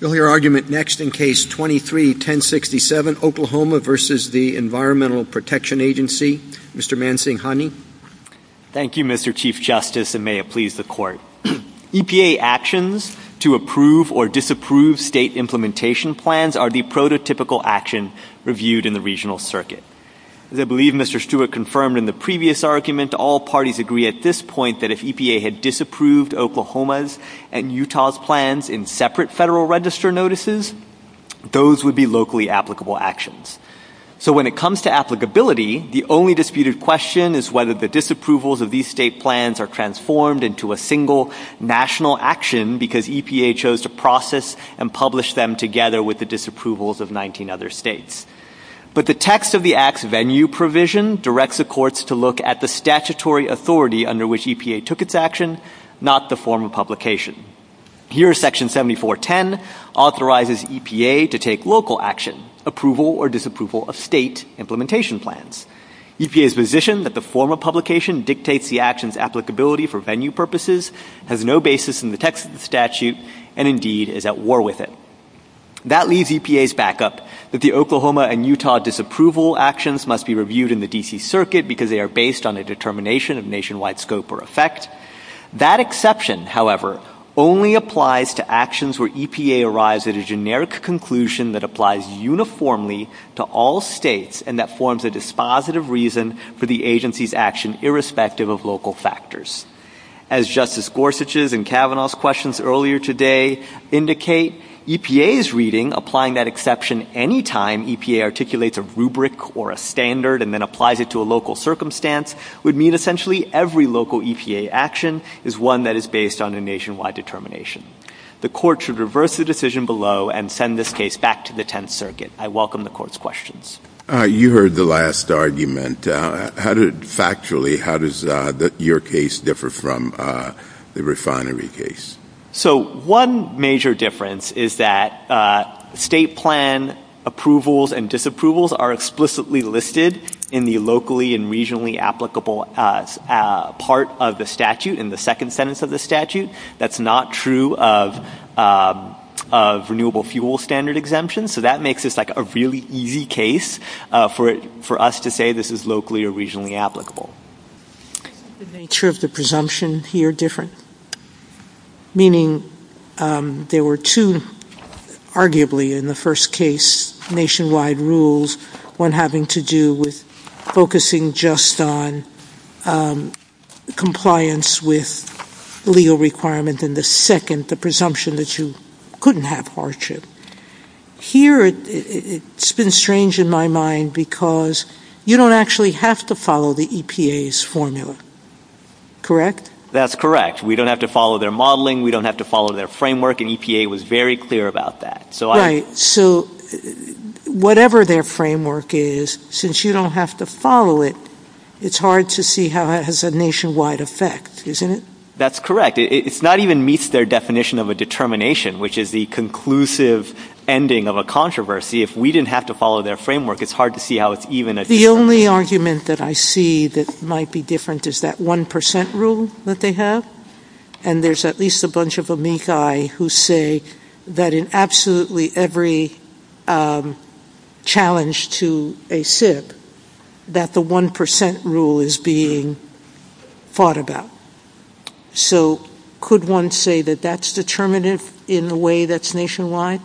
You'll hear argument next in Case 23-1067, Oklahoma v. the Environmental Protection Agency. Mr. Mansinghani. Thank you, Mr. Chief Justice, and may it please the Court. EPA actions to approve or disapprove state implementation plans are the prototypical action reviewed in the regional circuit. As I believe Mr. Stewart confirmed in the previous argument, all parties agree at this point that if EPA had disapproved Oklahoma's and Utah's plans in separate Federal Register notices, those would be locally applicable actions. So when it comes to applicability, the only disputed question is whether the disapprovals of these state plans are transformed into a single national action because EPA chose to process and publish them together with the disapprovals of 19 other states. But the text of the Act's venue provision directs the courts to look at the statutory authority under which EPA took its action, not the form of publication. Here, Section 7410 authorizes EPA to take local action, approval or disapproval of state implementation plans. EPA's position that the form of publication dictates the action's applicability for venue purposes has no basis in the text of the statute and, indeed, is at war with it. That leaves EPA's backup that the Oklahoma and Utah disapproval actions must be reviewed in the D.C. circuit because they are based on a determination of nationwide scope or effect. That exception, however, only applies to actions where EPA arrives at a generic conclusion that applies uniformly to all states and that forms a dispositive reason for the agency's action irrespective of local factors. As Justice Gorsuch's and Kavanaugh's questions earlier today indicate, EPA's reading applying that exception any time EPA articulates a rubric or a standard and then applies it to a local circumstance would mean, essentially, every local EPA action is one that is based on a nationwide determination. The court should reverse the decision below and send this case back to the Tenth Circuit. I welcome the court's questions. You heard the last argument. Factually, how does your case differ from the refinery case? So one major difference is that state plan approvals and disapprovals are explicitly listed in the locally and regionally applicable part of the statute, in the second sentence of the statute. That's not true of renewable fuel standard exemptions. So that makes this like a really easy case for us to say this is locally or regionally applicable. Is the nature of the presumption here different? Meaning there were two, arguably, in the first case nationwide rules, one having to do with focusing just on compliance with legal requirement and the second, the presumption that you couldn't have hardship. Here it's been strange in my mind because you don't actually have to follow the EPA's formula. Correct? That's correct. We don't have to follow their modeling. We don't have to follow their framework. And EPA was very clear about that. Right. So whatever their framework is, since you don't have to follow it, it's hard to see how it has a nationwide effect, isn't it? That's correct. It's not even meets their definition of a determination, which is the conclusive ending of a controversy. If we didn't have to follow their framework, it's hard to see how it's even a determination. The only argument that I see that might be different is that 1% rule that they have. And there's at least a bunch of amici who say that in absolutely every challenge to a SIP, that the 1% rule is being fought about. So could one say that that's determinative in a way that's nationwide?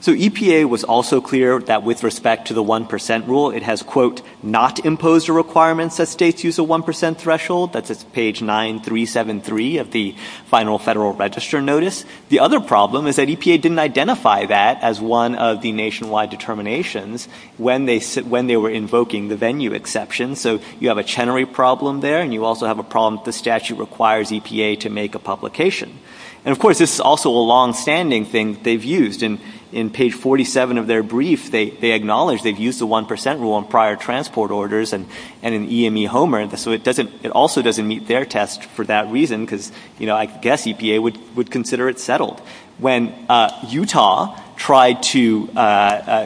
So EPA was also clear that with respect to the 1% rule, it has, quote, not imposed a requirement that states use a 1% threshold. That's at page 9373 of the final Federal Register notice. The other problem is that EPA didn't identify that as one of the nationwide determinations when they were invoking the venue exception. So you have a Chenery problem there, and you also have a problem that the statute requires EPA to make a publication. And of course, this is also a longstanding thing that they've used. In page 47 of their orders, and in EME Homer, so it also doesn't meet their test for that reason, because I guess EPA would consider it settled. When Utah tried to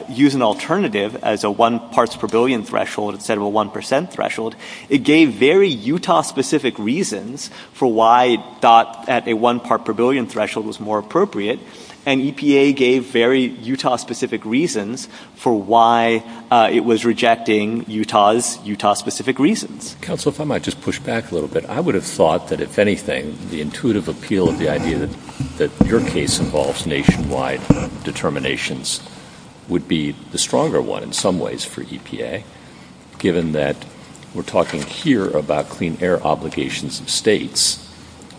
use an alternative as a one parts per billion threshold instead of a 1% threshold, it gave very Utah-specific reasons for why it thought that a one part per billion threshold was more appropriate. And EPA gave very Utah-specific reasons for why it was rejecting Utah's Utah-specific reasons. Counsel, if I might just push back a little bit. I would have thought that, if anything, the intuitive appeal of the idea that your case involves nationwide determinations would be the stronger one in some ways for EPA, given that we're talking here about clean air obligations of states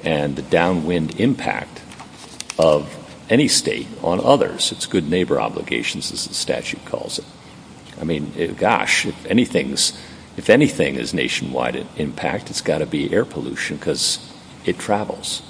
and the downwind impact of any state on others, its good neighbor obligations, as the statute calls it. I mean, gosh, if anything is nationwide impact, it's got to be air pollution, because it travels.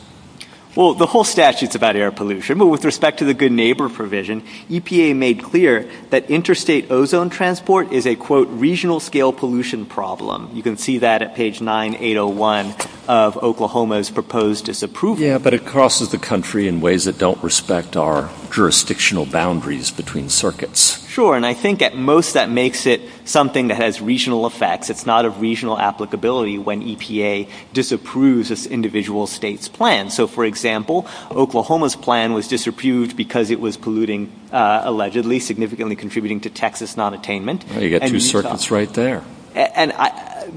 Well, the whole statute's about air pollution. But with respect to the good neighbor provision, EPA made clear that interstate ozone transport is a, quote, regional scale pollution problem. You can see that at page 9801 of Oklahoma's proposed disapproval. Yeah, but it crosses the country in ways that don't respect our jurisdictional boundaries between circuits. Sure, and I think at most that makes it something that has regional effects. It's not of regional applicability when EPA disapproves an individual state's plan. So, for example, Oklahoma's plan was disapproved because it was polluting, allegedly, significantly contributing to Texas non-attainment. You've got two circuits right there. And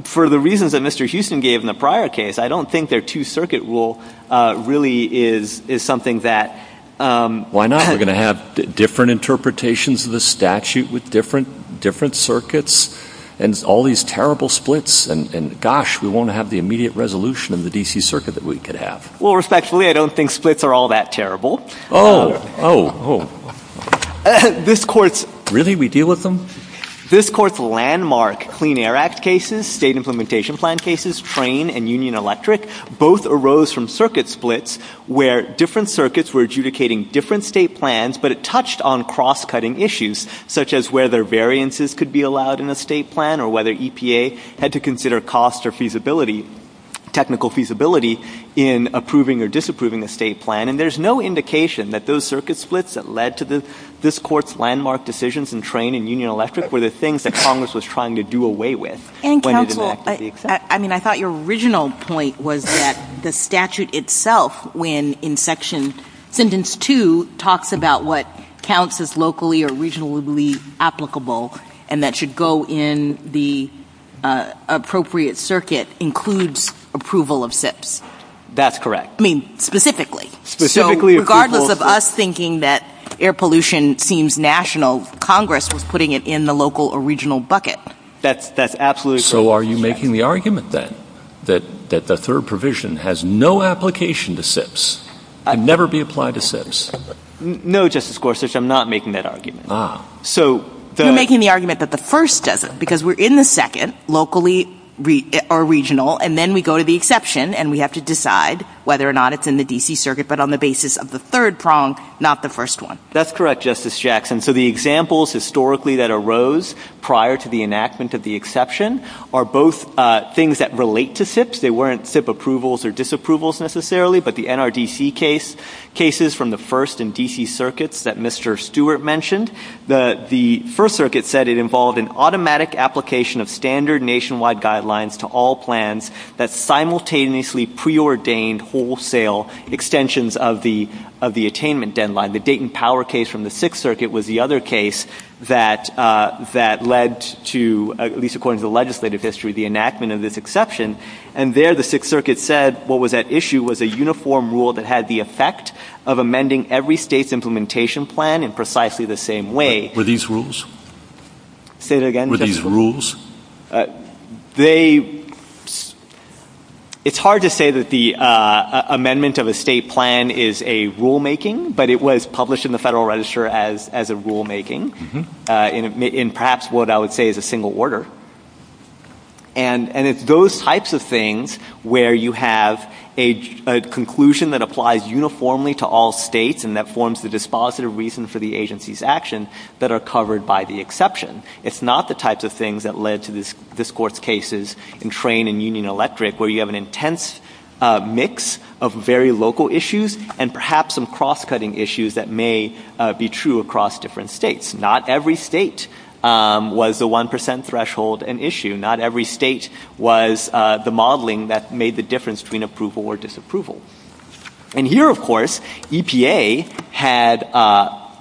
for the reasons that Mr. Houston gave in the prior case, I don't think their two circuit rule really is something that — Why not? We're going to have different interpretations of the statute with different circuits and all these terrible splits, and gosh, we won't have the immediate resolution of the D.C. Circuit that we could have. Well, respectfully, I don't think splits are all that terrible. Oh, oh, oh. This Court's — Really? We deal with them? This Court's landmark Clean Air Act cases, state implementation plan cases, train and Union Electric, both arose from circuit splits where different circuits were adjudicating different state plans, but it touched on cross-cutting issues, such as whether variances could be allowed in a state plan or whether EPA had to consider cost or feasibility — technical feasibility in approving or disapproving a state plan. And there's no indication that those circuit splits that led to this Court's landmark decisions in train and Union Electric were the things that Congress was trying to do away with when it enacted the exemptions. I mean, I thought your original point was that the statute itself, when in section — sentence two talks about what counts as locally or regionally applicable and that should go in the appropriate circuit, includes approval of SIPs. That's correct. I mean, specifically. Specifically approval — So regardless of us thinking that air pollution seems national, Congress was putting it in the local or regional bucket. That's absolutely correct. So are you making the argument, then, that — that the third provision has no application to SIPs and never be applied to SIPs? No, Justice Gorsuch. I'm not making that argument. Ah. So the — You're making the argument that the first doesn't, because we're in the second, locally or regional, and then we go to the exception and we have to decide whether or not it's in the D.C. Circuit, but on the basis of the third prong, not the first one. That's correct, Justice Jackson. So the examples historically that arose prior to the enactment of the exception are both things that relate to SIPs. They weren't SIP approvals or disapprovals, necessarily, but the NRDC cases from the first and D.C. circuits that Mr. Stewart mentioned. The First Circuit said it involved an automatic application of standard nationwide guidelines to all plans that simultaneously preordained wholesale extensions of the attainment deadline. The Dayton Power case from the Sixth Circuit was the other case that led to — at least according to the legislative history — the enactment of this exception. And there, the Sixth Circuit said what was at issue was a uniform rule that had the effect of amending every state's implementation plan in precisely the same way. Were these rules? Say that again, Justice Gorsuch. Were these rules? They — it's hard to say that the amendment of a state plan is a rulemaking, but it was published in the Federal Register as a rulemaking in perhaps what I would say is a single order. And it's those types of things where you have a conclusion that applies uniformly to all states and that forms the dispositive reason for the agency's action that are covered by the exception. It's not the types of things that led to this — this Court's cases in Train and Union Electric where you have an intense mix of very local issues and perhaps some cross-cutting issues that may be true across different states. Not every state was a 1 percent threshold and issue. Not every state was the modeling that made the difference between approval or disapproval. And here, of course, EPA had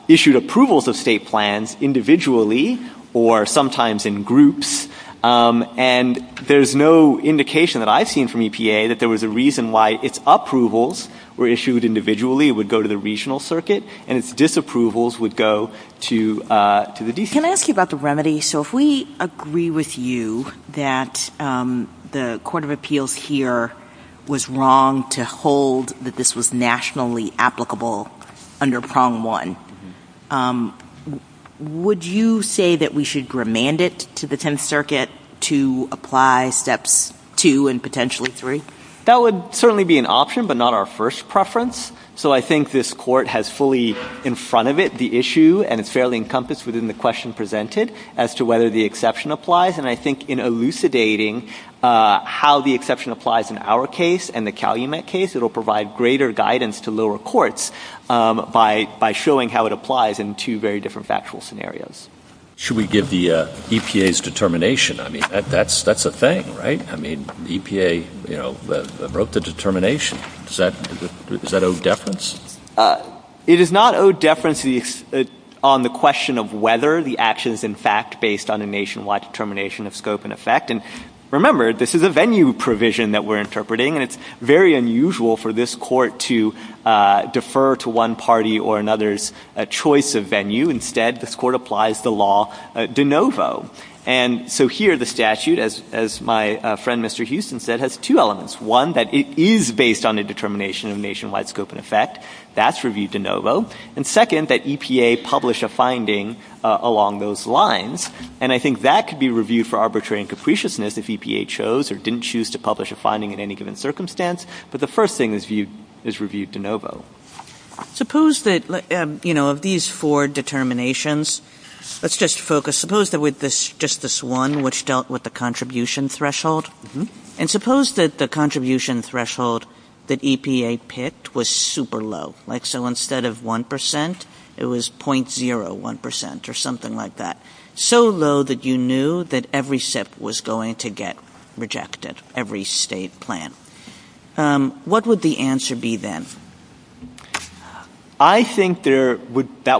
issued approvals of state plans individually or sometimes in groups and there's no indication that I've seen from EPA that there was a reason why its approvals were issued individually, would go to the regional circuit, and its disapprovals would go to — to the DCA. Can I ask you about the remedy? So if we agree with you that the Court of Appeals here was wrong to hold that this was nationally applicable under Prong 1, would you say that we should remand it to the Tenth Circuit to apply Steps 2 and potentially 3? That would certainly be an option, but not our first preference. So I think this Court has fully in front of it the issue and it's fairly encompassed within the question presented as to whether the exception applies. And I think in elucidating how the exception applies in our case and the Calumet case, it will provide greater guidance to lower courts by showing how it applies in two very different factual scenarios. Should we give the EPA's determination? I mean, that's a thing, right? I mean, EPA, you know, wrote the determination. Does that owe deference? It does not owe deference on the question of whether the action is in fact based on a nationwide determination of scope and effect. And remember, this is a venue provision that we're interpreting, and it's very unusual for this Court to defer to one party or another's choice of venue. Instead, this Court applies the law de novo. And so here the statute, as my friend Mr. Houston said, has two elements. One, that it is based on a determination of nationwide scope and effect. That's reviewed de novo. And second, that EPA publish a finding along those lines. And I think that could be reviewed for arbitrary and capriciousness if EPA chose or didn't choose to publish a finding in any given circumstance, but the first thing is reviewed de novo. Suppose that, you know, of these four determinations, let's just focus, suppose that with just this one which dealt with the contribution threshold, and suppose that the contribution threshold that EPA picked was super low, like so instead of 1 percent, it was .01 percent or something like that. So low that you knew that every SIP was going to get rejected, every state plan. What would the answer be then? I think that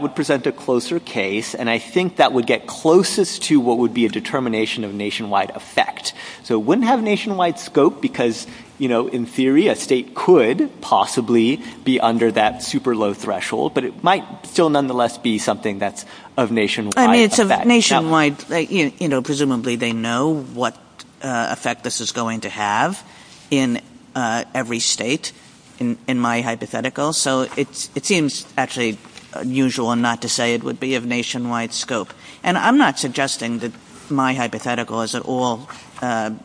would present a closer case, and I think that would get closest to what would be a determination of nationwide effect. So it wouldn't have nationwide scope because, you know, in theory a state could possibly be under that super low threshold, but it might still nonetheless be something that's of nationwide effect. I mean, it's of nationwide, you know, presumably they know what effect this is going to have in every state, in my hypothetical. So it seems actually unusual not to say it would be of nationwide scope. And I'm not suggesting that my hypothetical is at all the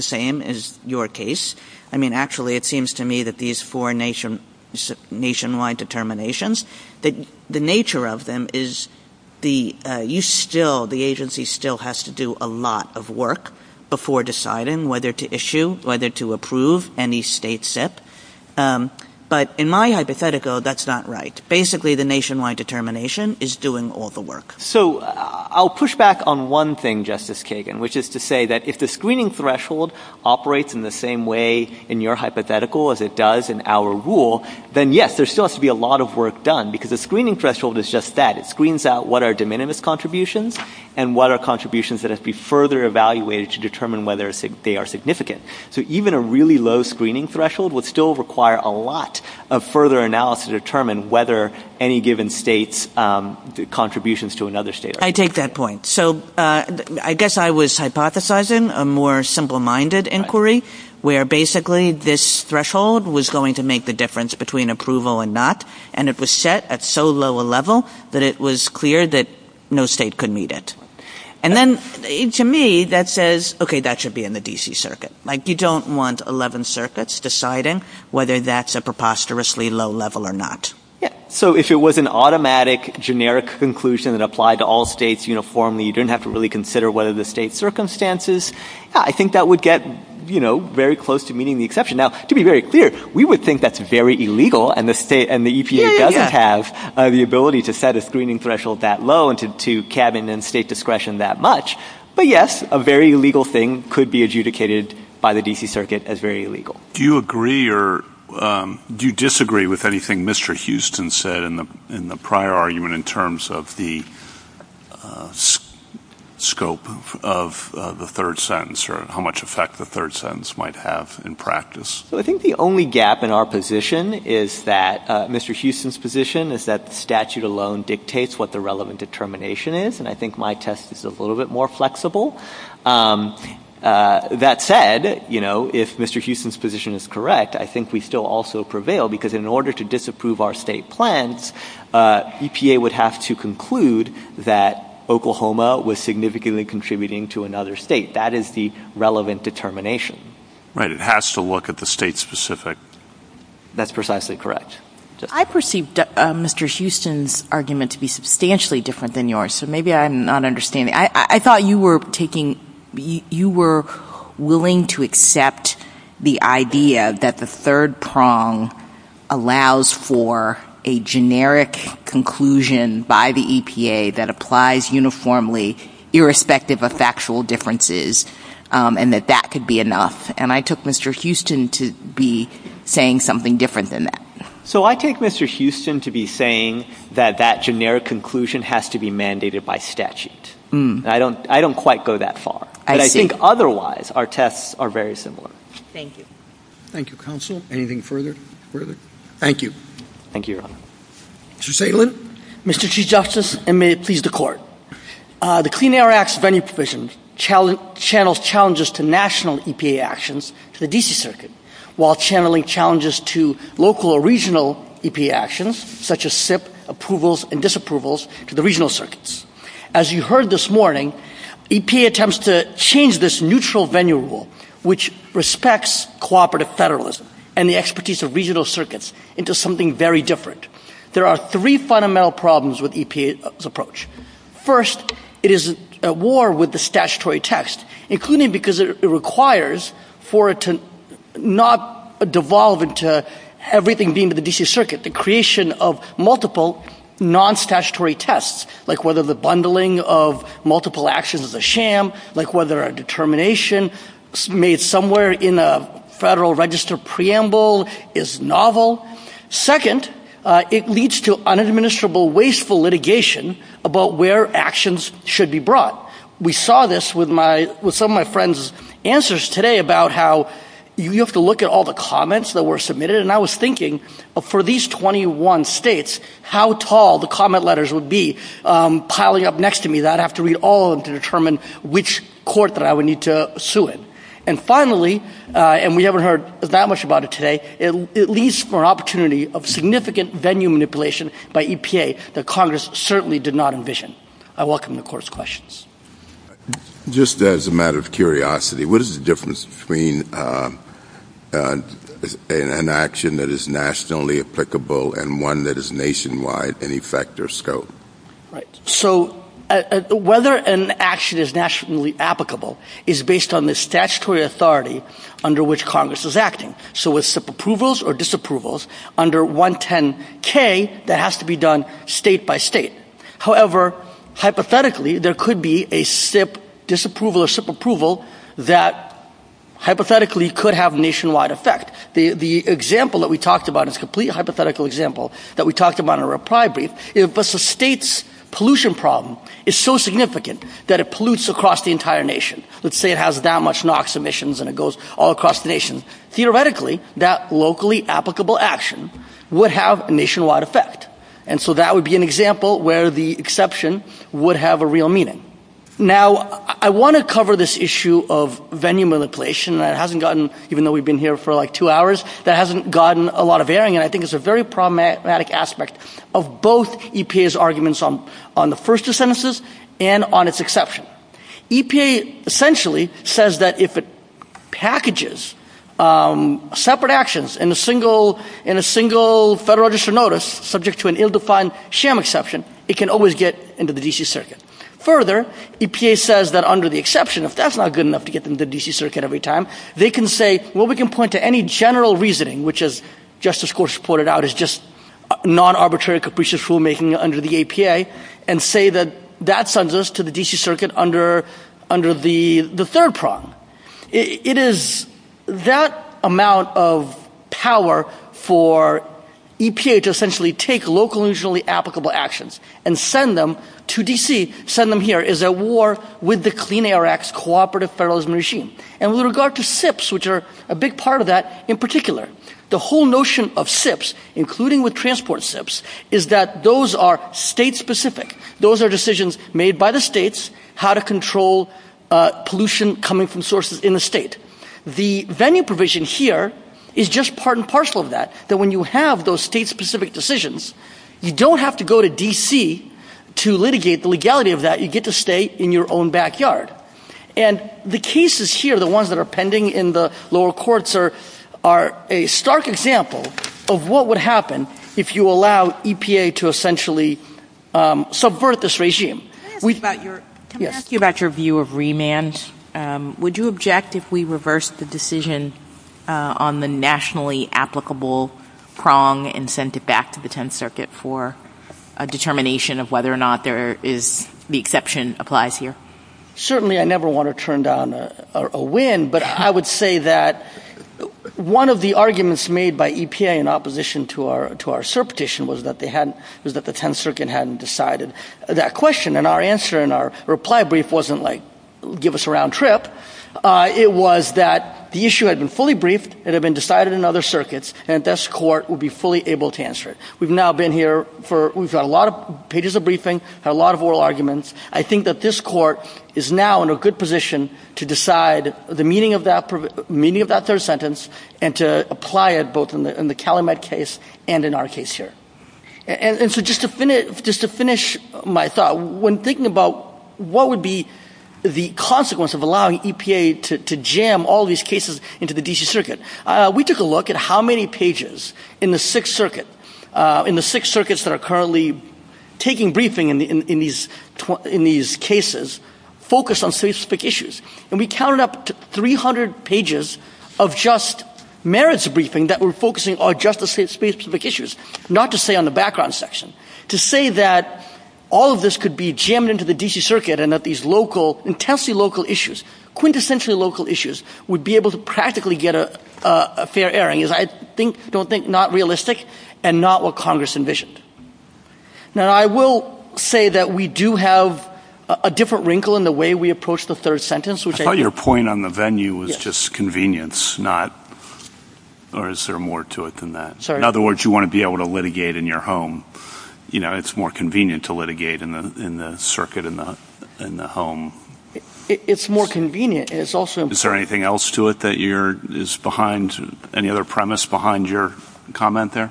same as your case. I mean, actually it seems to me that these four nationwide determinations, the nature of them is you still, the agency still has to do a lot of work before deciding whether to issue, whether to approve any state SIP. But in my hypothetical, that's not right. Basically the nationwide determination is doing all the work. So I'll push back on one thing, Justice Kagan, which is to say that if the screening threshold operates in the same way in your hypothetical as it does in our rule, then yes, there still has to be a lot of work done because the screening threshold is just that. It screens out what are de minimis contributions and what are contributions that have to be further evaluated to determine whether they are significant. So even a really low screening threshold would still require a lot of further analysis to determine whether any given state's contributions to another state are. I take that point. So I guess I was hypothesizing a more simple-minded inquiry where basically this threshold was going to make the difference between approval and not. And it was set at so low a level that it was clear that no state could meet it. And then to me that says, okay, that should be in the D.C. circuit. Like you don't want 11 circuits deciding whether that's a preposterously low level or not. So if it was an automatic, generic conclusion that applied to all states uniformly, you didn't have to really consider what are the state's circumstances, I think that would get very close to meeting the exception. Now, to be very clear, we would think that's very illegal and the EPA doesn't have the ability to set a screening threshold that low and to cabinet and state discretion that much. But yes, a very illegal thing could be adjudicated by the D.C. circuit as very illegal. Do you agree or do you disagree with anything Mr. Houston said in the prior argument in terms of the scope of the third sentence or how much effect the third sentence might have in practice? I think the only gap in our position is that Mr. Houston's position is that the statute alone dictates what the relevant determination is. And I think my test is a little bit more flexible. That said, you know, if Mr. Houston's position is correct, I think we still also prevail because in order to disapprove our state plans, EPA would have to conclude that Oklahoma was significantly contributing to another state. That is the relevant determination. Right. It has to look at the state specific. That's precisely correct. I perceived Mr. Houston's argument to be substantially different than yours. So maybe I'm not understanding. I thought you were taking, you were willing to accept the idea that the third prong allows for a generic conclusion by the EPA that applies uniformly irrespective of factual differences and that that could be enough. And I took Mr. Houston to be saying something different than that. So I take Mr. Houston to be saying that that generic conclusion has to be mandated by statute. I don't quite go that far. But I think otherwise our tests are very similar. Thank you. Thank you, Counsel. Anything further? Thank you. Thank you, Your Honor. Mr. Salen. Mr. Chief Justice, and may it please the Court. The Clean Air Act's venue provision channels challenges to national EPA actions to the D.C. Circuit while channeling challenges to local or regional EPA actions such as SIP, approvals, and disapprovals to the regional circuits. As you heard this morning, EPA attempts to change this neutral venue rule which respects cooperative federalism and the expertise of regional circuits into something very different. There are three fundamental problems with EPA's approach. First, it is at war with the statutory text, including because it requires for it to not devolve into everything being the D.C. Circuit. The creation of multiple non-statutory tests, like whether the bundling of multiple actions is a sham, like whether a determination made somewhere in a federal register preamble is novel. Second, it leads to unadministrable, wasteful litigation about where actions should be brought. We saw this with some of my friends' answers today about how you have to look at all the For these 21 states, how tall the comment letters would be. Piling up next to me, I'd have to read all of them to determine which court that I would need to sue in. And finally, and we haven't heard that much about it today, it leads to an opportunity of significant venue manipulation by EPA that Congress certainly did not envision. I welcome the Court's questions. Just as a matter of curiosity, what is the difference between an action that is nationally applicable and one that is nationwide in effect or scope? So whether an action is nationally applicable is based on the statutory authority under which Congress is acting. So with SIP approvals or disapprovals under 110K, that has to be state-by-state. However, hypothetically, there could be a SIP disapproval or SIP approval that hypothetically could have nationwide effect. The example that we talked about is a complete hypothetical example that we talked about in a reply brief. If the state's pollution problem is so significant that it pollutes across the entire nation, let's say it has that much NOx emissions and it goes all across the nation, theoretically, that locally applicable action would have a nationwide effect. And so that would be an example where the exception would have a real meaning. Now, I want to cover this issue of venue manipulation that hasn't gotten, even though we've been here for like two hours, that hasn't gotten a lot of airing. And I think it's a very problematic aspect of both EPA's arguments on the first two sentences and on its exception. EPA essentially says that if it packages separate actions in a single Federal Register notice subject to an ill-defined sham exception, it can always get into the D.C. Circuit. Further, EPA says that under the exception, if that's not good enough to get them to the D.C. Circuit every time, they can say, well, we can point to any general reasoning, which as Justice Gorsuch pointed out is just non-arbitrary, capricious rulemaking under the APA, and say that that sends us to the D.C. Circuit under the third prong. It is that amount of power for EPA to essentially take local and regionally applicable actions and send them to D.C., send them here, is at war with the Clean Air Act's cooperative federalism regime. And with regard to SIPs, which are a big part of that, in particular, the whole notion of SIPs, including with transport SIPs, is that those are state-specific. Those are decisions made by the states how to control pollution coming from sources in the state. The venue provision here is just part and parcel of that, that when you have those state-specific decisions, you don't have to go to D.C. to litigate the legality of that. You get to stay in your own backyard. And the cases here, the ones that are pending in the lower courts, are a stark example of what would happen if you allow EPA to essentially subvert this regime. Can I ask you about your view of remand? Would you object if we reversed the decision on the nationally applicable prong and sent it back to the Tenth Circuit for a determination of whether or not there is, the exception applies here? Certainly, I never want to turn down a win, but I would say that one of the arguments made by EPA in opposition to our cert petition was that they hadn't, was that the Tenth Circuit hadn't decided that question. And our answer in our reply brief wasn't like, give us a round trip. It was that the issue had been fully briefed, it had been decided in other circuits, and this court would be fully able to answer it. We've now been here for, we've got a lot of pages of briefing, had a lot of oral arguments. I think that this court is now in a good position to decide the meaning of that, meaning of that third sentence and to apply it both in the Calumet case and in our case here. And so just to finish my thought, when thinking about what would be the consequence of allowing EPA to jam all these cases into the D.C. Circuit, we took a look at how many pages in the Sixth Circuit, in the Sixth Circuits that are currently taking briefing in these cases focused on specific issues. And we counted up to 300 pages of just merits briefing that were focusing on just the specific issues, not to say on the background section. To say that all of this could be jammed into the D.C. Circuit and that these local, intensely local issues, quintessentially local issues, would be able to practically get a fair airing is, I think, don't think, not realistic and not what Congress envisioned. Now I will say that we do have a different wrinkle in the way we approach the third sentence, which I think – I thought your point on the venue was just convenience, not – or is there more to it than that? Sorry. In other words, you want to be able to litigate in your home. You know, it's more convenient to litigate in the circuit, in the home. It's more convenient. It's also – Is there anything else to it that you're – is behind – any other premise behind your comment there?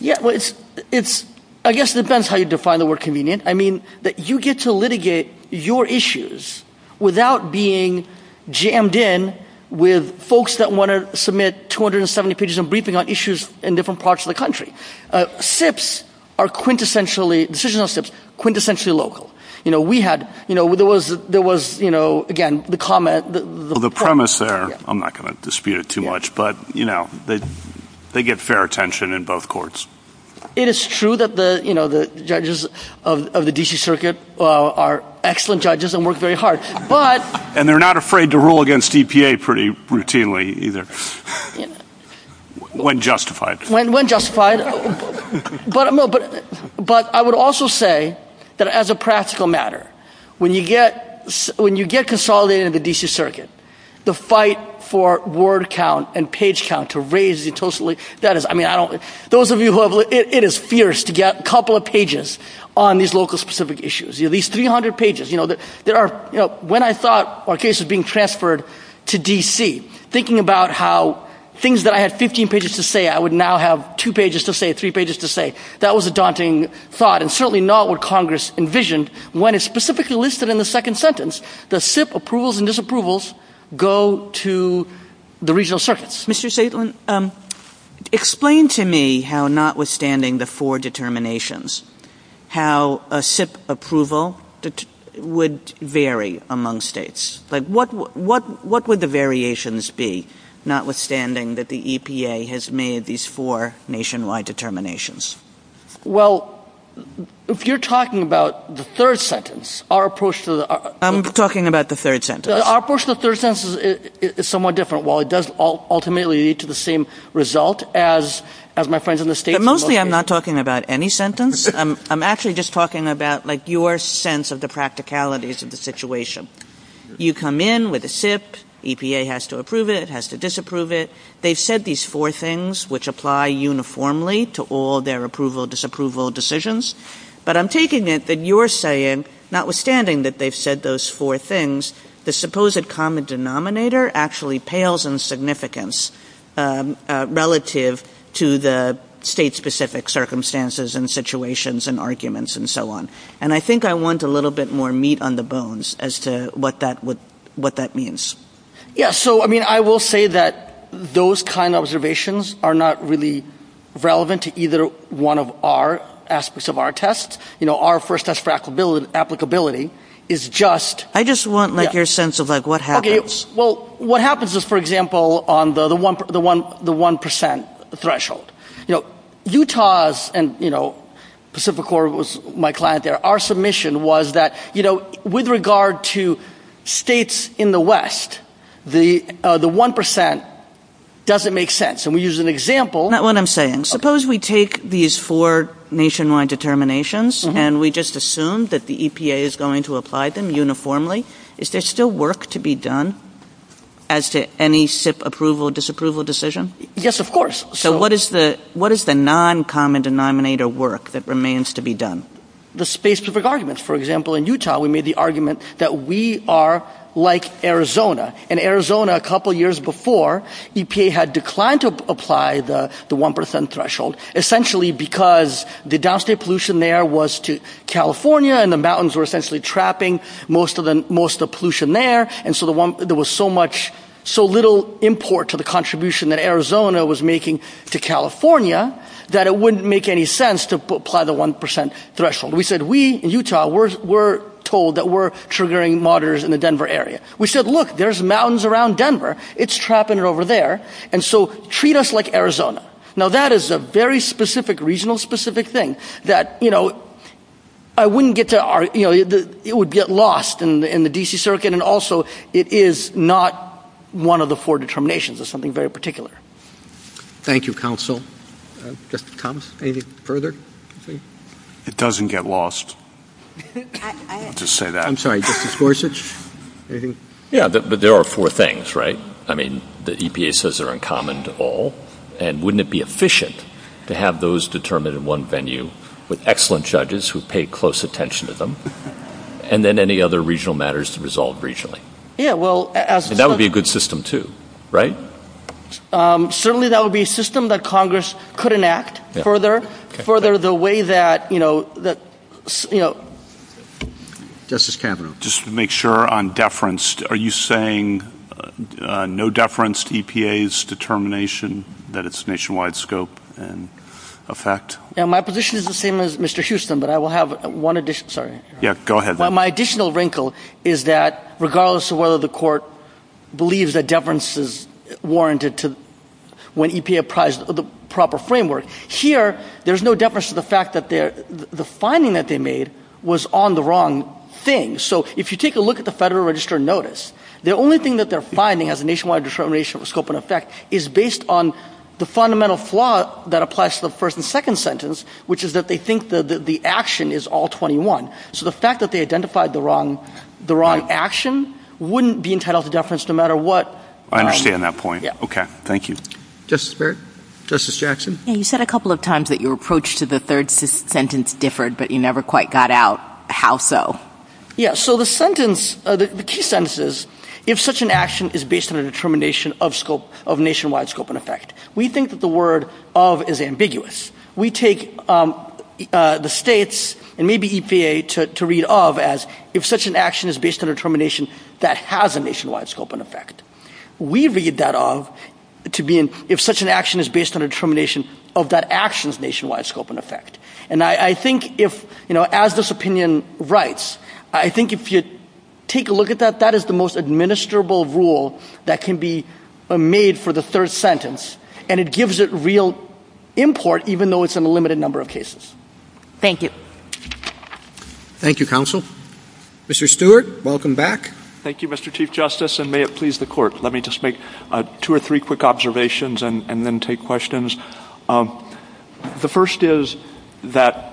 Yeah, it's – I guess it depends how you define the word convenient. I mean, that you get to litigate your issues without being jammed in with folks that want to submit 270 pages of briefing on issues in different parts of the country. SIPs are quintessentially – decisions on SIPs are quintessentially local. You know, we had – you know, there was – there was, you know, again, the comment – Well, the premise there – I'm not going to dispute it too much, but, you know, they get fair attention in both courts. It is true that the – you know, the judges of the D.C. Circuit are excellent judges and work very hard, but – And they're not afraid to rule against EPA pretty routinely either. When justified. When justified. But I would also say that as a practical matter, when you get – when you get consolidated in the D.C. Circuit, the fight for word count and page count to that is – I mean, I don't – those of you who have – it is fierce to get a couple of pages on these local specific issues. You know, these 300 pages, you know, there are – you know, when I thought our case was being transferred to D.C., thinking about how things that I had 15 pages to say I would now have two pages to say, three pages to say, that was a daunting thought and certainly not what Congress envisioned when it's specifically listed in the second sentence. The SIP approvals and disapprovals go to the regional circuits. Mr. Saitlin, explain to me how, notwithstanding the four determinations, how a SIP approval would vary among states. Like, what – what would the variations be, notwithstanding that the EPA has made these four nationwide determinations? Well, if you're talking about the third sentence, our approach to the – I'm talking about the third sentence. Our approach to the third sentence is somewhat different. While it does ultimately lead to the same result as my friends in the states – But mostly I'm not talking about any sentence. I'm actually just talking about, like, your sense of the practicalities of the situation. You come in with a SIP. EPA has to approve it. It has to disapprove it. They've said these four things, which apply uniformly to all their approval, disapproval decisions. But I'm taking it that you're saying, notwithstanding that they've said those four things, the supposed common denominator actually pales in significance relative to the state-specific circumstances and situations and arguments and so on. And I think I want a little bit more meat on the bones as to what that would – what that means. Yeah. So, I mean, I will say that those kind of observations are not really relevant to either one of our aspects of our tests. You know, our first test for applicability is just – I just want, like, your sense of, like, what happens. Okay. Well, what happens is, for example, on the 1 percent threshold. You know, Utah's and, you know, Pacific Corp was my client there. Our submission was that, you know, with regard to states in the West, the 1 percent doesn't make sense. And we use an example – No, that's not what I'm saying. Suppose we take these four nationwide determinations and we just assume that the EPA is going to apply them uniformly. Is there still work to be done as to any SIP approval, disapproval decision? Yes, of course. So what is the – what is the non-common denominator work that remains to be done? The space-specific arguments. For example, in Utah, we made the argument that we are like Arizona. And Arizona, a couple years before, EPA had declined to apply the 1 percent threshold essentially because the downstate pollution there was to California and the mountains were essentially trapping most of the – most of the pollution there. And so the one – there was so much – so little import to the contribution that Arizona was making to California that it wouldn't make any sense to apply the 1 percent threshold. We said, we in Utah, we're told that we're triggering monitors in the Denver area. We said, look, there's mountains around Denver. It's trapping it over there. And so treat us like Arizona. Now, that is a very specific regional specific thing that, you know, I wouldn't get to our – you know, it would get lost in the D.C. circuit. And also, it is not one of the four determinations. It's something very particular. Thank you, counsel. Justice Thomas, anything further? It doesn't get lost. I'll just say that. I'm sorry. Justice Gorsuch, anything? Yeah, but there are four things, right? I mean, the EPA says they're uncommon to all. And wouldn't it be efficient to have those determined in one venue with excellent judges who pay close attention to them? And then any other regional matters to resolve regionally? Yeah, well, as – And that would be a good system too, right? Certainly, that would be a system that Congress could enact further. Further the way that, you know, that, you know – Justice Kavanaugh. Just to make sure on deference, are you saying no deference to EPA's determination that it's nationwide scope and effect? My position is the same as Mr. Houston, but I will have one additional – sorry. Yeah, go ahead. My additional wrinkle is that regardless of whether the court believes that deference is warranted to when EPA apprised the proper framework, here there's no deference to the fact that the finding that they made was on the wrong thing. So if you take a look at the Federal Register notice, the only thing that they're finding as a nationwide determination of scope and effect is based on the fundamental flaw that applies to the first and second sentence, which is that they think that the action is all 21. So the fact that they identified the wrong action wouldn't be entitled to deference no matter what – I understand that point. Okay, thank you. Justice Barrett. Justice Jackson. You said a couple of times that your approach to the third sentence differed, but you never quite got out how so. Yeah, so the sentence – the key sentence is if such an action is based on a determination of scope – of nationwide scope and effect. We think that the word of is ambiguous. We take the states and maybe EPA to read of as if such an action is based on a determination that has a nationwide scope and effect. We read that of to be in – if such an action is based on a determination of that action's nationwide scope and effect. And I think if – you know, as this opinion writes, I think if you take a look at that, that is the most administrable rule that can be made for the third sentence, and it gives it real import even though it's in a limited number of cases. Thank you. Thank you, counsel. Mr. Stewart, welcome back. Thank you, Mr. Chief Justice, and may it please the Court, let me just make two or three quick observations and then take questions. The first is that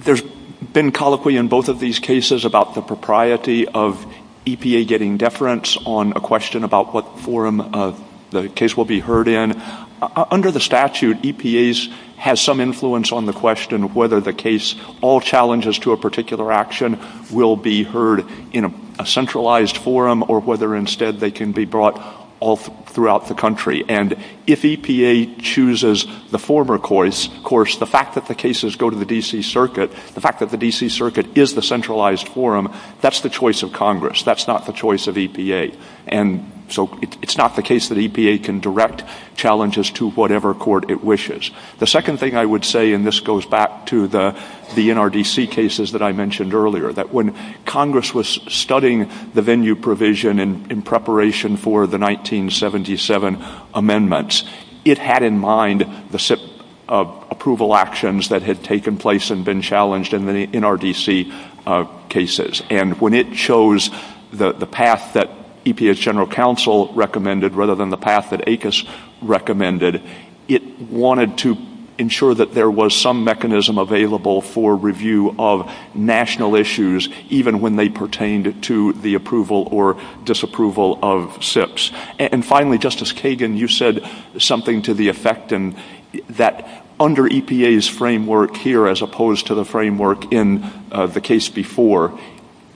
there's been colloquy in both of these cases about the propriety of EPA getting deference on a question about what forum the case will be heard in. Under the statute, EPA has some influence on the question whether the case – all challenges to a particular action will be heard in a centralized forum or whether instead they can be brought all throughout the country. And if EPA chooses the former course, the fact that the cases go to the D.C. Circuit, the fact that the D.C. Circuit is the centralized forum, that's the choice of Congress. That's not the choice of EPA. And so it's not the case that EPA can direct challenges to whatever court it The second thing I would say, and this goes back to the NRDC cases that I mentioned earlier, that when Congress was studying the venue provision in preparation for the 1977 amendments, it had in mind the SIP approval actions that had taken place and been challenged in the NRDC cases. And when it chose the path that EPA's general counsel recommended rather than the path that ACUS recommended, it wanted to ensure that there was some mechanism available for review of national issues, even when they pertained to the approval or disapproval of SIPs. And finally, Justice Kagan, you said something to the effect that under EPA's framework here as opposed to the framework in the case before,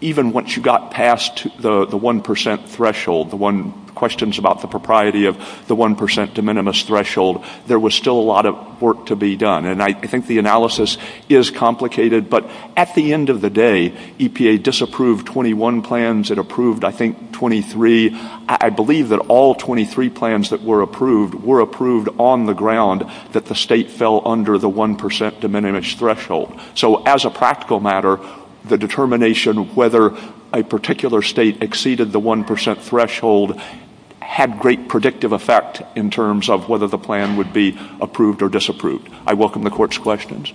even once you got past the 1 percent threshold, the questions about the propriety of the 1 percent de minimis threshold, there was still a lot of work to be done. And I think the analysis is complicated, but at the end of the day, EPA disapproved 21 plans. It approved, I think, 23. I believe that all 23 plans that were approved were approved on the ground that the state fell under the 1 percent de minimis threshold. So as a practical matter, the determination of whether a particular state exceeded the 1 percent threshold had great predictive effect in terms of whether the plan would be approved or disapproved. I welcome the Court's questions.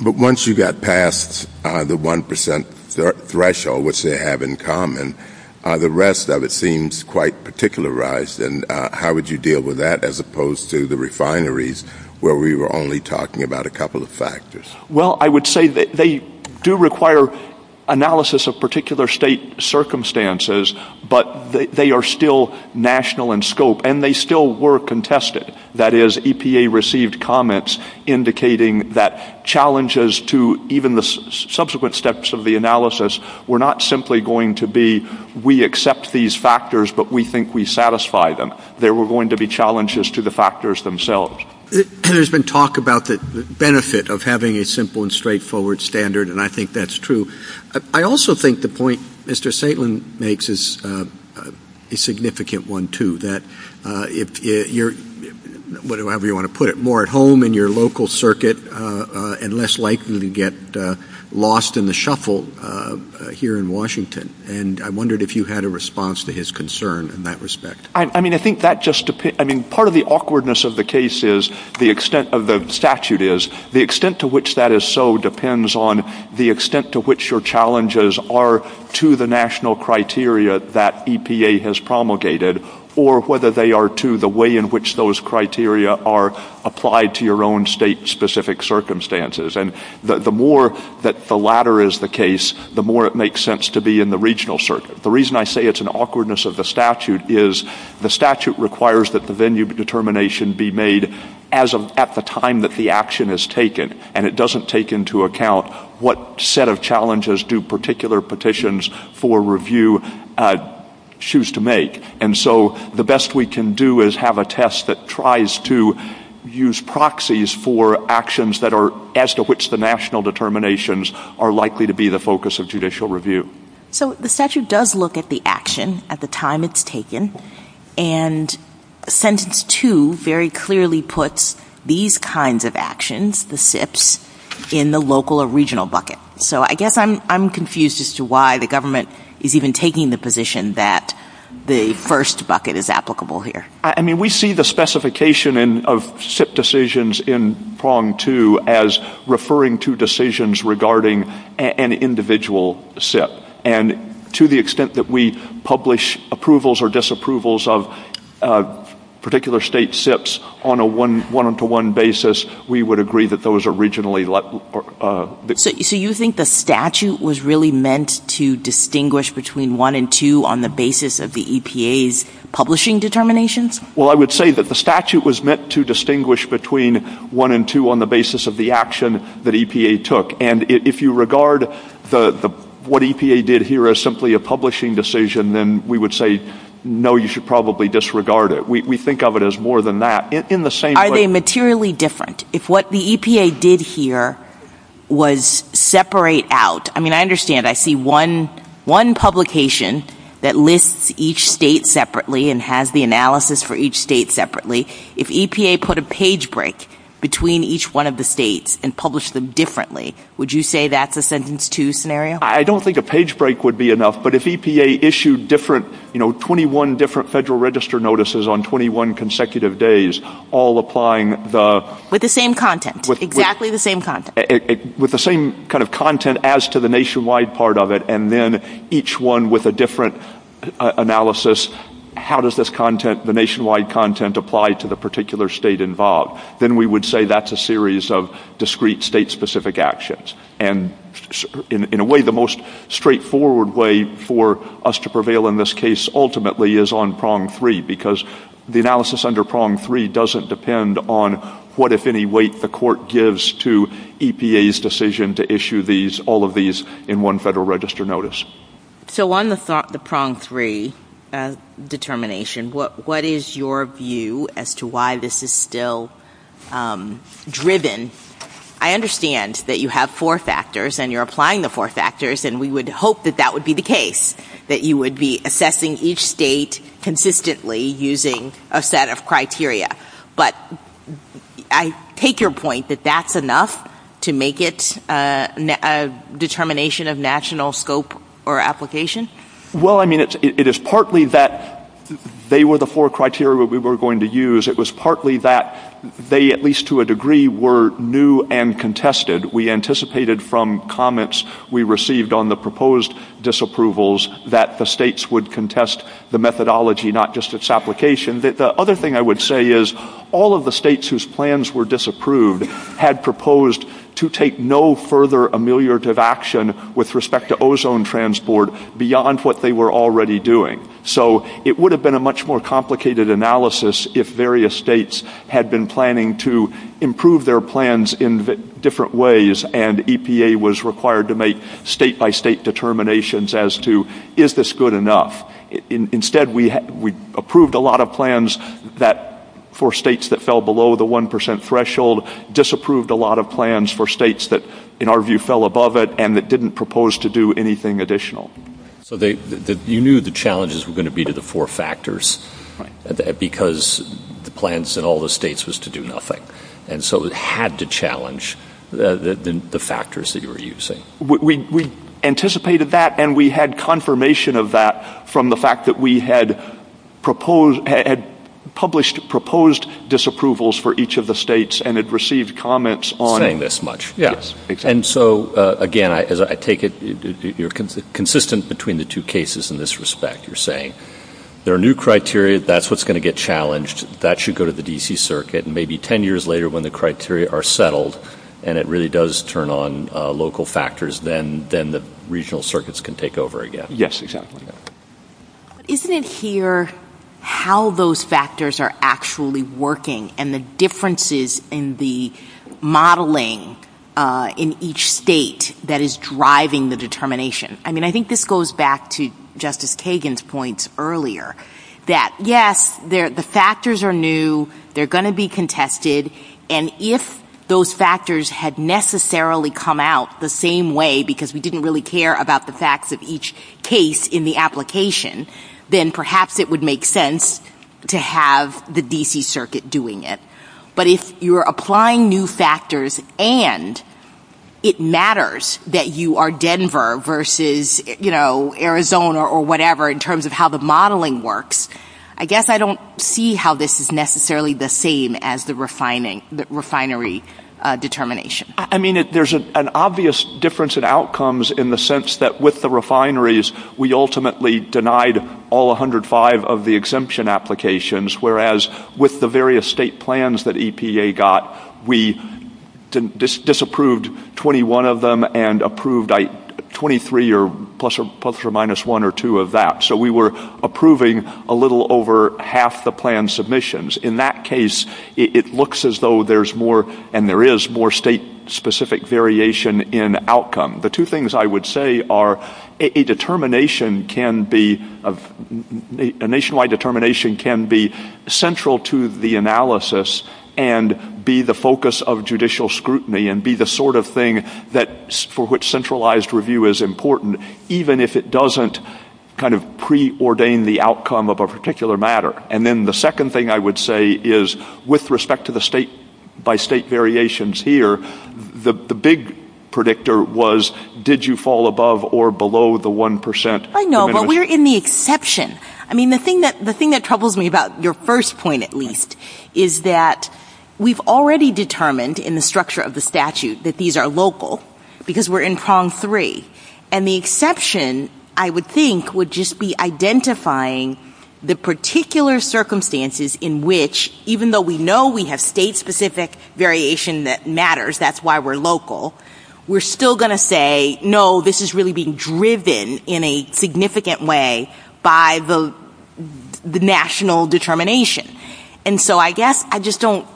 But once you got past the 1 percent threshold, which they have in common, the rest of it seems quite particularized. And how would you deal with that as opposed to the refineries where we were only talking about a couple of factors? Well, I would say they do require analysis of particular state circumstances, but they are still national in scope, and they still were contested. That is, EPA received comments indicating that challenges to even the subsequent steps of the analysis were not simply going to be, we accept these factors, but we think we satisfy them. There were going to be challenges to the factors themselves. There has been talk about the benefit of having a simple and straightforward standard, and I think that is true. I also think the point Mr. Saitlin makes is a significant one, too, that if you're, whatever you want to put it, more at home in your local circuit and less likely to get lost in the shuffle here in Washington. And I wondered if you had a response to his concern in that respect. I mean, I think that just, I mean, part of the awkwardness of the case is, the extent of the statute is, the extent to which that is so depends on the extent to which your challenges are to the national criteria that EPA has promulgated, or whether they are to the way in which those criteria are applied to your own state-specific circumstances. And the more that the latter is the case, the more it makes sense to be in the regional circuit. The reason I say it's an awkwardness of the statute is, the statute requires that the venue determination be made at the time that the action is taken, and it doesn't take into account what set of challenges do particular petitions for review choose to make. And so the best we can do is have a test that tries to use proxies for actions that are, as to which the national determinations are likely to be the focus of judicial review. So the statute does look at the action at the time it's taken, and sentence two very clearly puts these kinds of actions, the SIPs, in the local or regional bucket. So I guess I'm confused as to why the government is even taking the position that the first bucket is applicable here. I mean, we see the specification of SIP decisions in prong two as referring to decisions regarding an individual SIP. And to the extent that we publish approvals or disapprovals of particular state SIPs on a one-to-one basis, we would agree that those are regionally let — So you think the statute was really meant to distinguish between one and two on the basis of the EPA's publishing determinations? Well, I would say that the statute was meant to distinguish between one and two on the basis of the action that EPA took. And if you regard what EPA did here as simply a disregard, we think of it as more than that. In the same way — Are they materially different? If what the EPA did here was separate out — I mean, I understand I see one publication that lists each state separately and has the analysis for each state separately. If EPA put a page break between each one of the states and published them differently, would you say that's a sentence two scenario? I don't think a page break would be enough. But if EPA issued different — you know, on 21 consecutive days, all applying the — With the same content. Exactly the same content. With the same kind of content as to the nationwide part of it, and then each one with a different analysis, how does this content, the nationwide content, apply to the particular state involved? Then we would say that's a series of discrete state-specific actions. And in a way, the most straightforward way for us to prevail in this case ultimately is on prong three, because the analysis under prong three doesn't depend on what, if any, weight the court gives to EPA's decision to issue these — all of these in one Federal Register notice. So on the prong three determination, what is your view as to why this is still driven? I understand that you have four factors and you're applying the four factors, and we would hope that that would be the case, that you would be assessing each state consistently using a set of criteria. But I take your point that that's enough to make it a determination of national scope or application? Well, I mean, it is partly that they were the four criteria we were going to use. It was partly that they, at least to a degree, were new and contested. We anticipated from comments we received on the proposed disapprovals that the states would contest the methodology, not just its application. The other thing I would say is all of the states whose plans were disapproved had proposed to take no further ameliorative action with respect to ozone transport beyond what they were already doing. So it would have been a much more complicated analysis if various states had been planning to improve their plans in different ways and EPA was required to make state-by-state determinations as to, is this good enough? Instead, we approved a lot of plans for states that fell below the 1% threshold, disapproved a lot of plans for states that, in our view, fell above it, and that didn't propose to do anything additional. So you knew the challenges were going to be to the four factors because the plans in all the states was to do nothing. And so it had to challenge the factors that you were using. We anticipated that and we had confirmation of that from the fact that we had published proposed disapprovals for each of the states and had saying this much. Yes, exactly. And so, again, as I take it, you're consistent between the two cases in this respect, you're saying there are new criteria, that's what's going to get challenged, that should go to the D.C. Circuit, and maybe 10 years later when the criteria are settled and it really does turn on local factors, then the regional circuits can take over again. Yes, exactly. But isn't it here how those factors are actually working and the differences in the modeling in each state that is driving the determination? I mean, I think this goes back to Justice Kagan's points earlier that, yes, the factors are new, they're going to be contested, and if those factors had necessarily come out the same way because we didn't really care about the application, then perhaps it would make sense to have the D.C. Circuit doing it. But if you're applying new factors and it matters that you are Denver versus, you know, Arizona or whatever in terms of how the modeling works, I guess I don't see how this is necessarily the same as the refinery determination. I mean, there's an obvious difference in outcomes in the sense that with the refineries, we ultimately denied all 105 of the exemption applications, whereas with the various state plans that EPA got, we disapproved 21 of them and approved 23 or plus or minus one or two of that. So we were approving a little over half the plan submissions. In that case, it looks as though there's more, and there is more, state-specific variation in outcome. The two things I would say are a determination can be, a nationwide determination can be central to the analysis and be the focus of judicial scrutiny and be the sort of thing that, for which centralized review is important, even if it doesn't kind of preordain the outcome of a particular matter. And then the second thing I would say is with respect to the state-by-state did you fall above or below the 1%? I know, but we're in the exception. I mean, the thing that troubles me about your first point, at least, is that we've already determined in the structure of the statute that these are local because we're in prong three. And the exception, I would think, would just be identifying the particular circumstances in which, even though we know we have state-specific variation that matters, that's why we're local, we're still going to say, no, this is really being driven in a significant way by the national determination. And so I guess I just don't,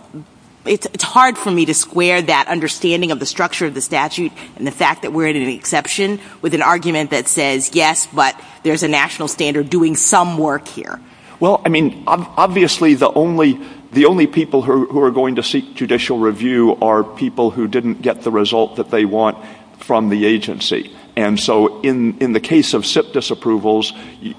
it's hard for me to square that understanding of the structure of the statute and the fact that we're in an exception with an argument that says, yes, but there's a national standard doing some work here. Well, I mean, obviously the only people who are going to seek judicial review are people who didn't get the result that they want from the agency. And so in the case of SIP disapprovals,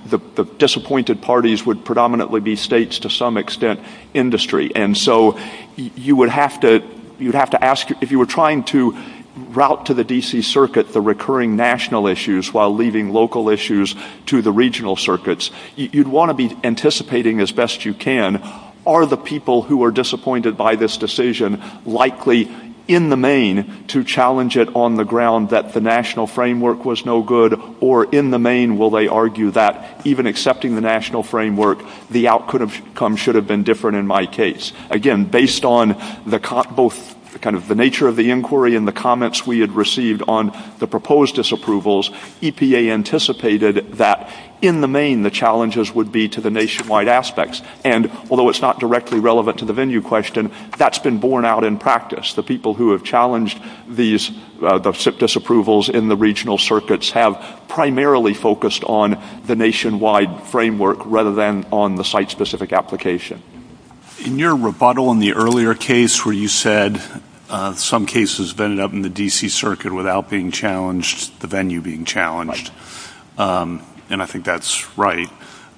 the disappointed parties would predominantly be states, to some extent, industry. And so you would have to ask, if you were trying to route to the D.C. Circuit the recurring national issues while leaving local issues to the regional circuits, you'd want to be anticipating as best you can, are the people who are disappointed by this decision likely, in the main, to challenge it on the ground that the national framework was no good, or in the main, will they argue that, even accepting the national framework, the outcome should have been different in my case? Again, based on both kind of the nature of the inquiry and the comments we had received on the proposed disapprovals, EPA anticipated that, in the main, the challenges would be to the nationwide aspects. And although it's not directly relevant to the venue question, that's been borne out in practice. The people who have challenged the SIP disapprovals in the regional circuits have primarily focused on the nationwide framework rather than on the site-specific application. In your rebuttal in the earlier case where you said some cases vented up in the D.C. Circuit without being challenged, the venue being challenged, and I think that's right,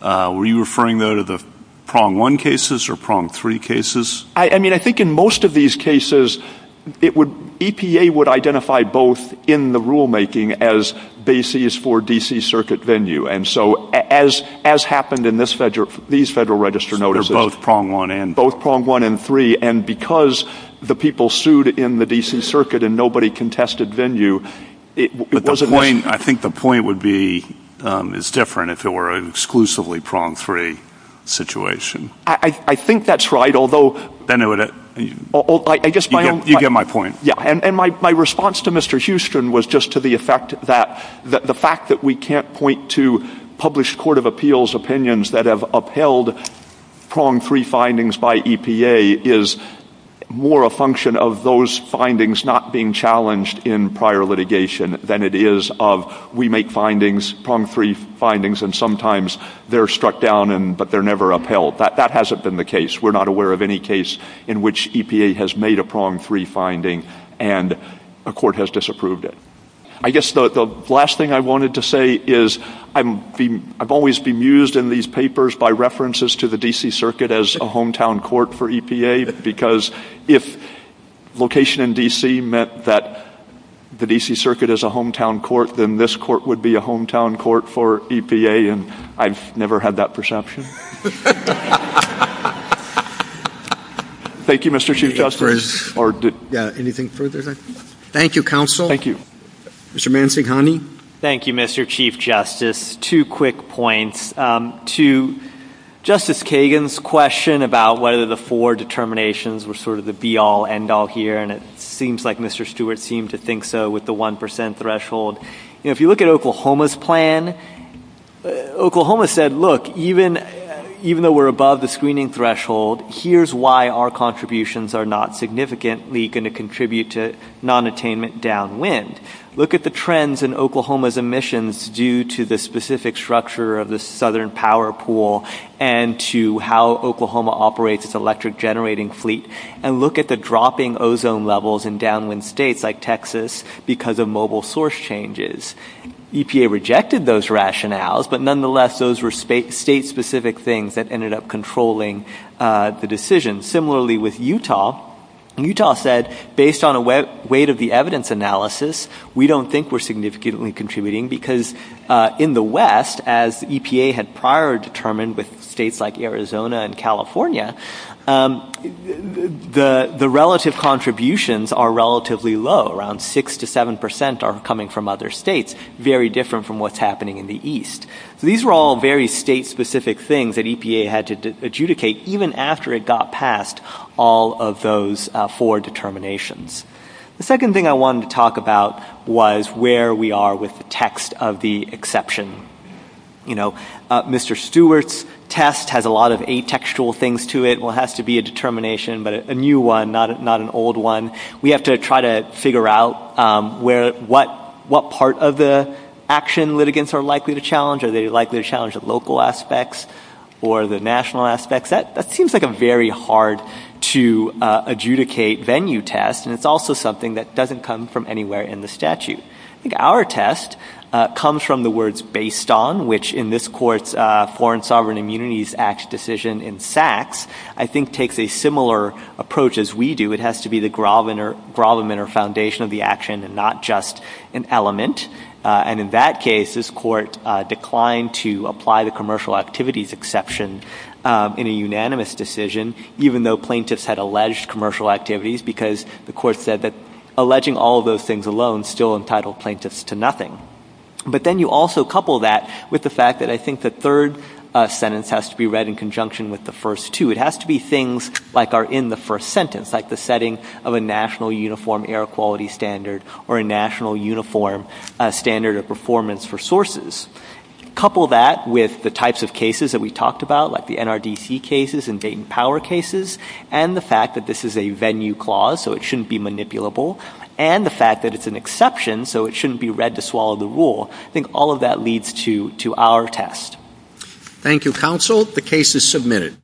were you referring, though, to the prong one cases or prong three cases? I mean, I think in most of these cases, it would, EPA would identify both in the rulemaking as bases for D.C. Circuit venue. And so, as happened in these Federal Register notices. They're both prong one and three. And because the people sued in the D.C. Circuit and nobody contested venue, it wasn't But the point, I think the point would be, is different if it were an exclusively prong three situation. I think that's right, although Then it would, you get my point. Yeah. And my response to Mr. Houston was just to the effect that the fact that we can't point to published Court of Appeals opinions that have upheld prong three findings by EPA is more a function of those findings not being challenged in prior litigation than it is of we make findings, prong three findings, and sometimes they're struck down, but they're never upheld. That hasn't been the case. We're not aware of any case in which EPA has made a prong three finding and a court has disapproved it. I guess the last thing I wanted to say is I've always been mused in these papers by references to the D.C. Circuit as a hometown court for EPA, because if location in D.C. meant that the D.C. Circuit is a hometown court, then this court would be a hometown court for EPA, and I've never had that perception. Thank you, Mr. Chief Justice. Yeah, anything further? Thank you, counsel. Mr. Mansinghani. Thank you, Mr. Chief Justice. Two quick points. To Justice Kagan's question about whether the four determinations were sort of the be-all, end-all here, and it seems like Mr. Stewart seemed to think so with the 1 percent threshold. You know, if you look at Oklahoma's plan, Oklahoma said, look, even though we're above the screening threshold, here's why our contributions are not significantly going to contribute to nonattainment downwind. Look at the trends in Oklahoma's emissions due to the specific structure of the southern power pool and to how Oklahoma operates its electric generating fleet, and look at the dropping ozone levels in downwind states like Texas because of mobile source changes. EPA rejected those rationales, but nonetheless, those were state-specific things that ended up controlling the decision. Similarly with Utah. Utah said, based on a weight of the evidence analysis, we don't think we're significantly contributing because in the West, as EPA had prior determined with states like Arizona and California, the relative contributions are relatively low, around 6 to 7 percent are coming from other states, very different from what's happening in the east. So these were all very state-specific things that EPA had to adjudicate even after it got passed, all of those four determinations. The second thing I wanted to talk about was where we are with the text of the exception. You know, Mr. Stewart's test has a lot of atextual things to it. Well, it has to be a determination, but a new one, not an old one. We have to try to figure out what part of the action litigants are likely to challenge. Are they likely to challenge the local aspects or the national aspects? That seems like a very hard to adjudicate venue test, and it's also something that doesn't come from anywhere in the statute. I think our test comes from the words based on, which in this court's Foreign Sovereign Immunities Act decision in Sachs, I think takes a similar approach as we do. It has to be the gravamen or foundation of the action and not just an element. And in that case, this court declined to apply the commercial activities exception in a unanimous decision, even though plaintiffs had alleged commercial activities because the court said that alleging all of those things alone still entitled plaintiffs to nothing. But then you also couple that with the fact that I think the third sentence has to be read in conjunction with the first two. It has to be things like are in the first sentence, like the setting of a national uniform air quality standard or a national uniform standard of performance for sources. Couple that with the types of cases that we talked about, like the NRDC cases and Dayton Power cases, and the fact that this is a venue clause, so it shouldn't be manipulable, and the fact that it's an exception, so it shouldn't be read to swallow the rule. I think all of that leads to our test. Thank you, counsel. The case is submitted.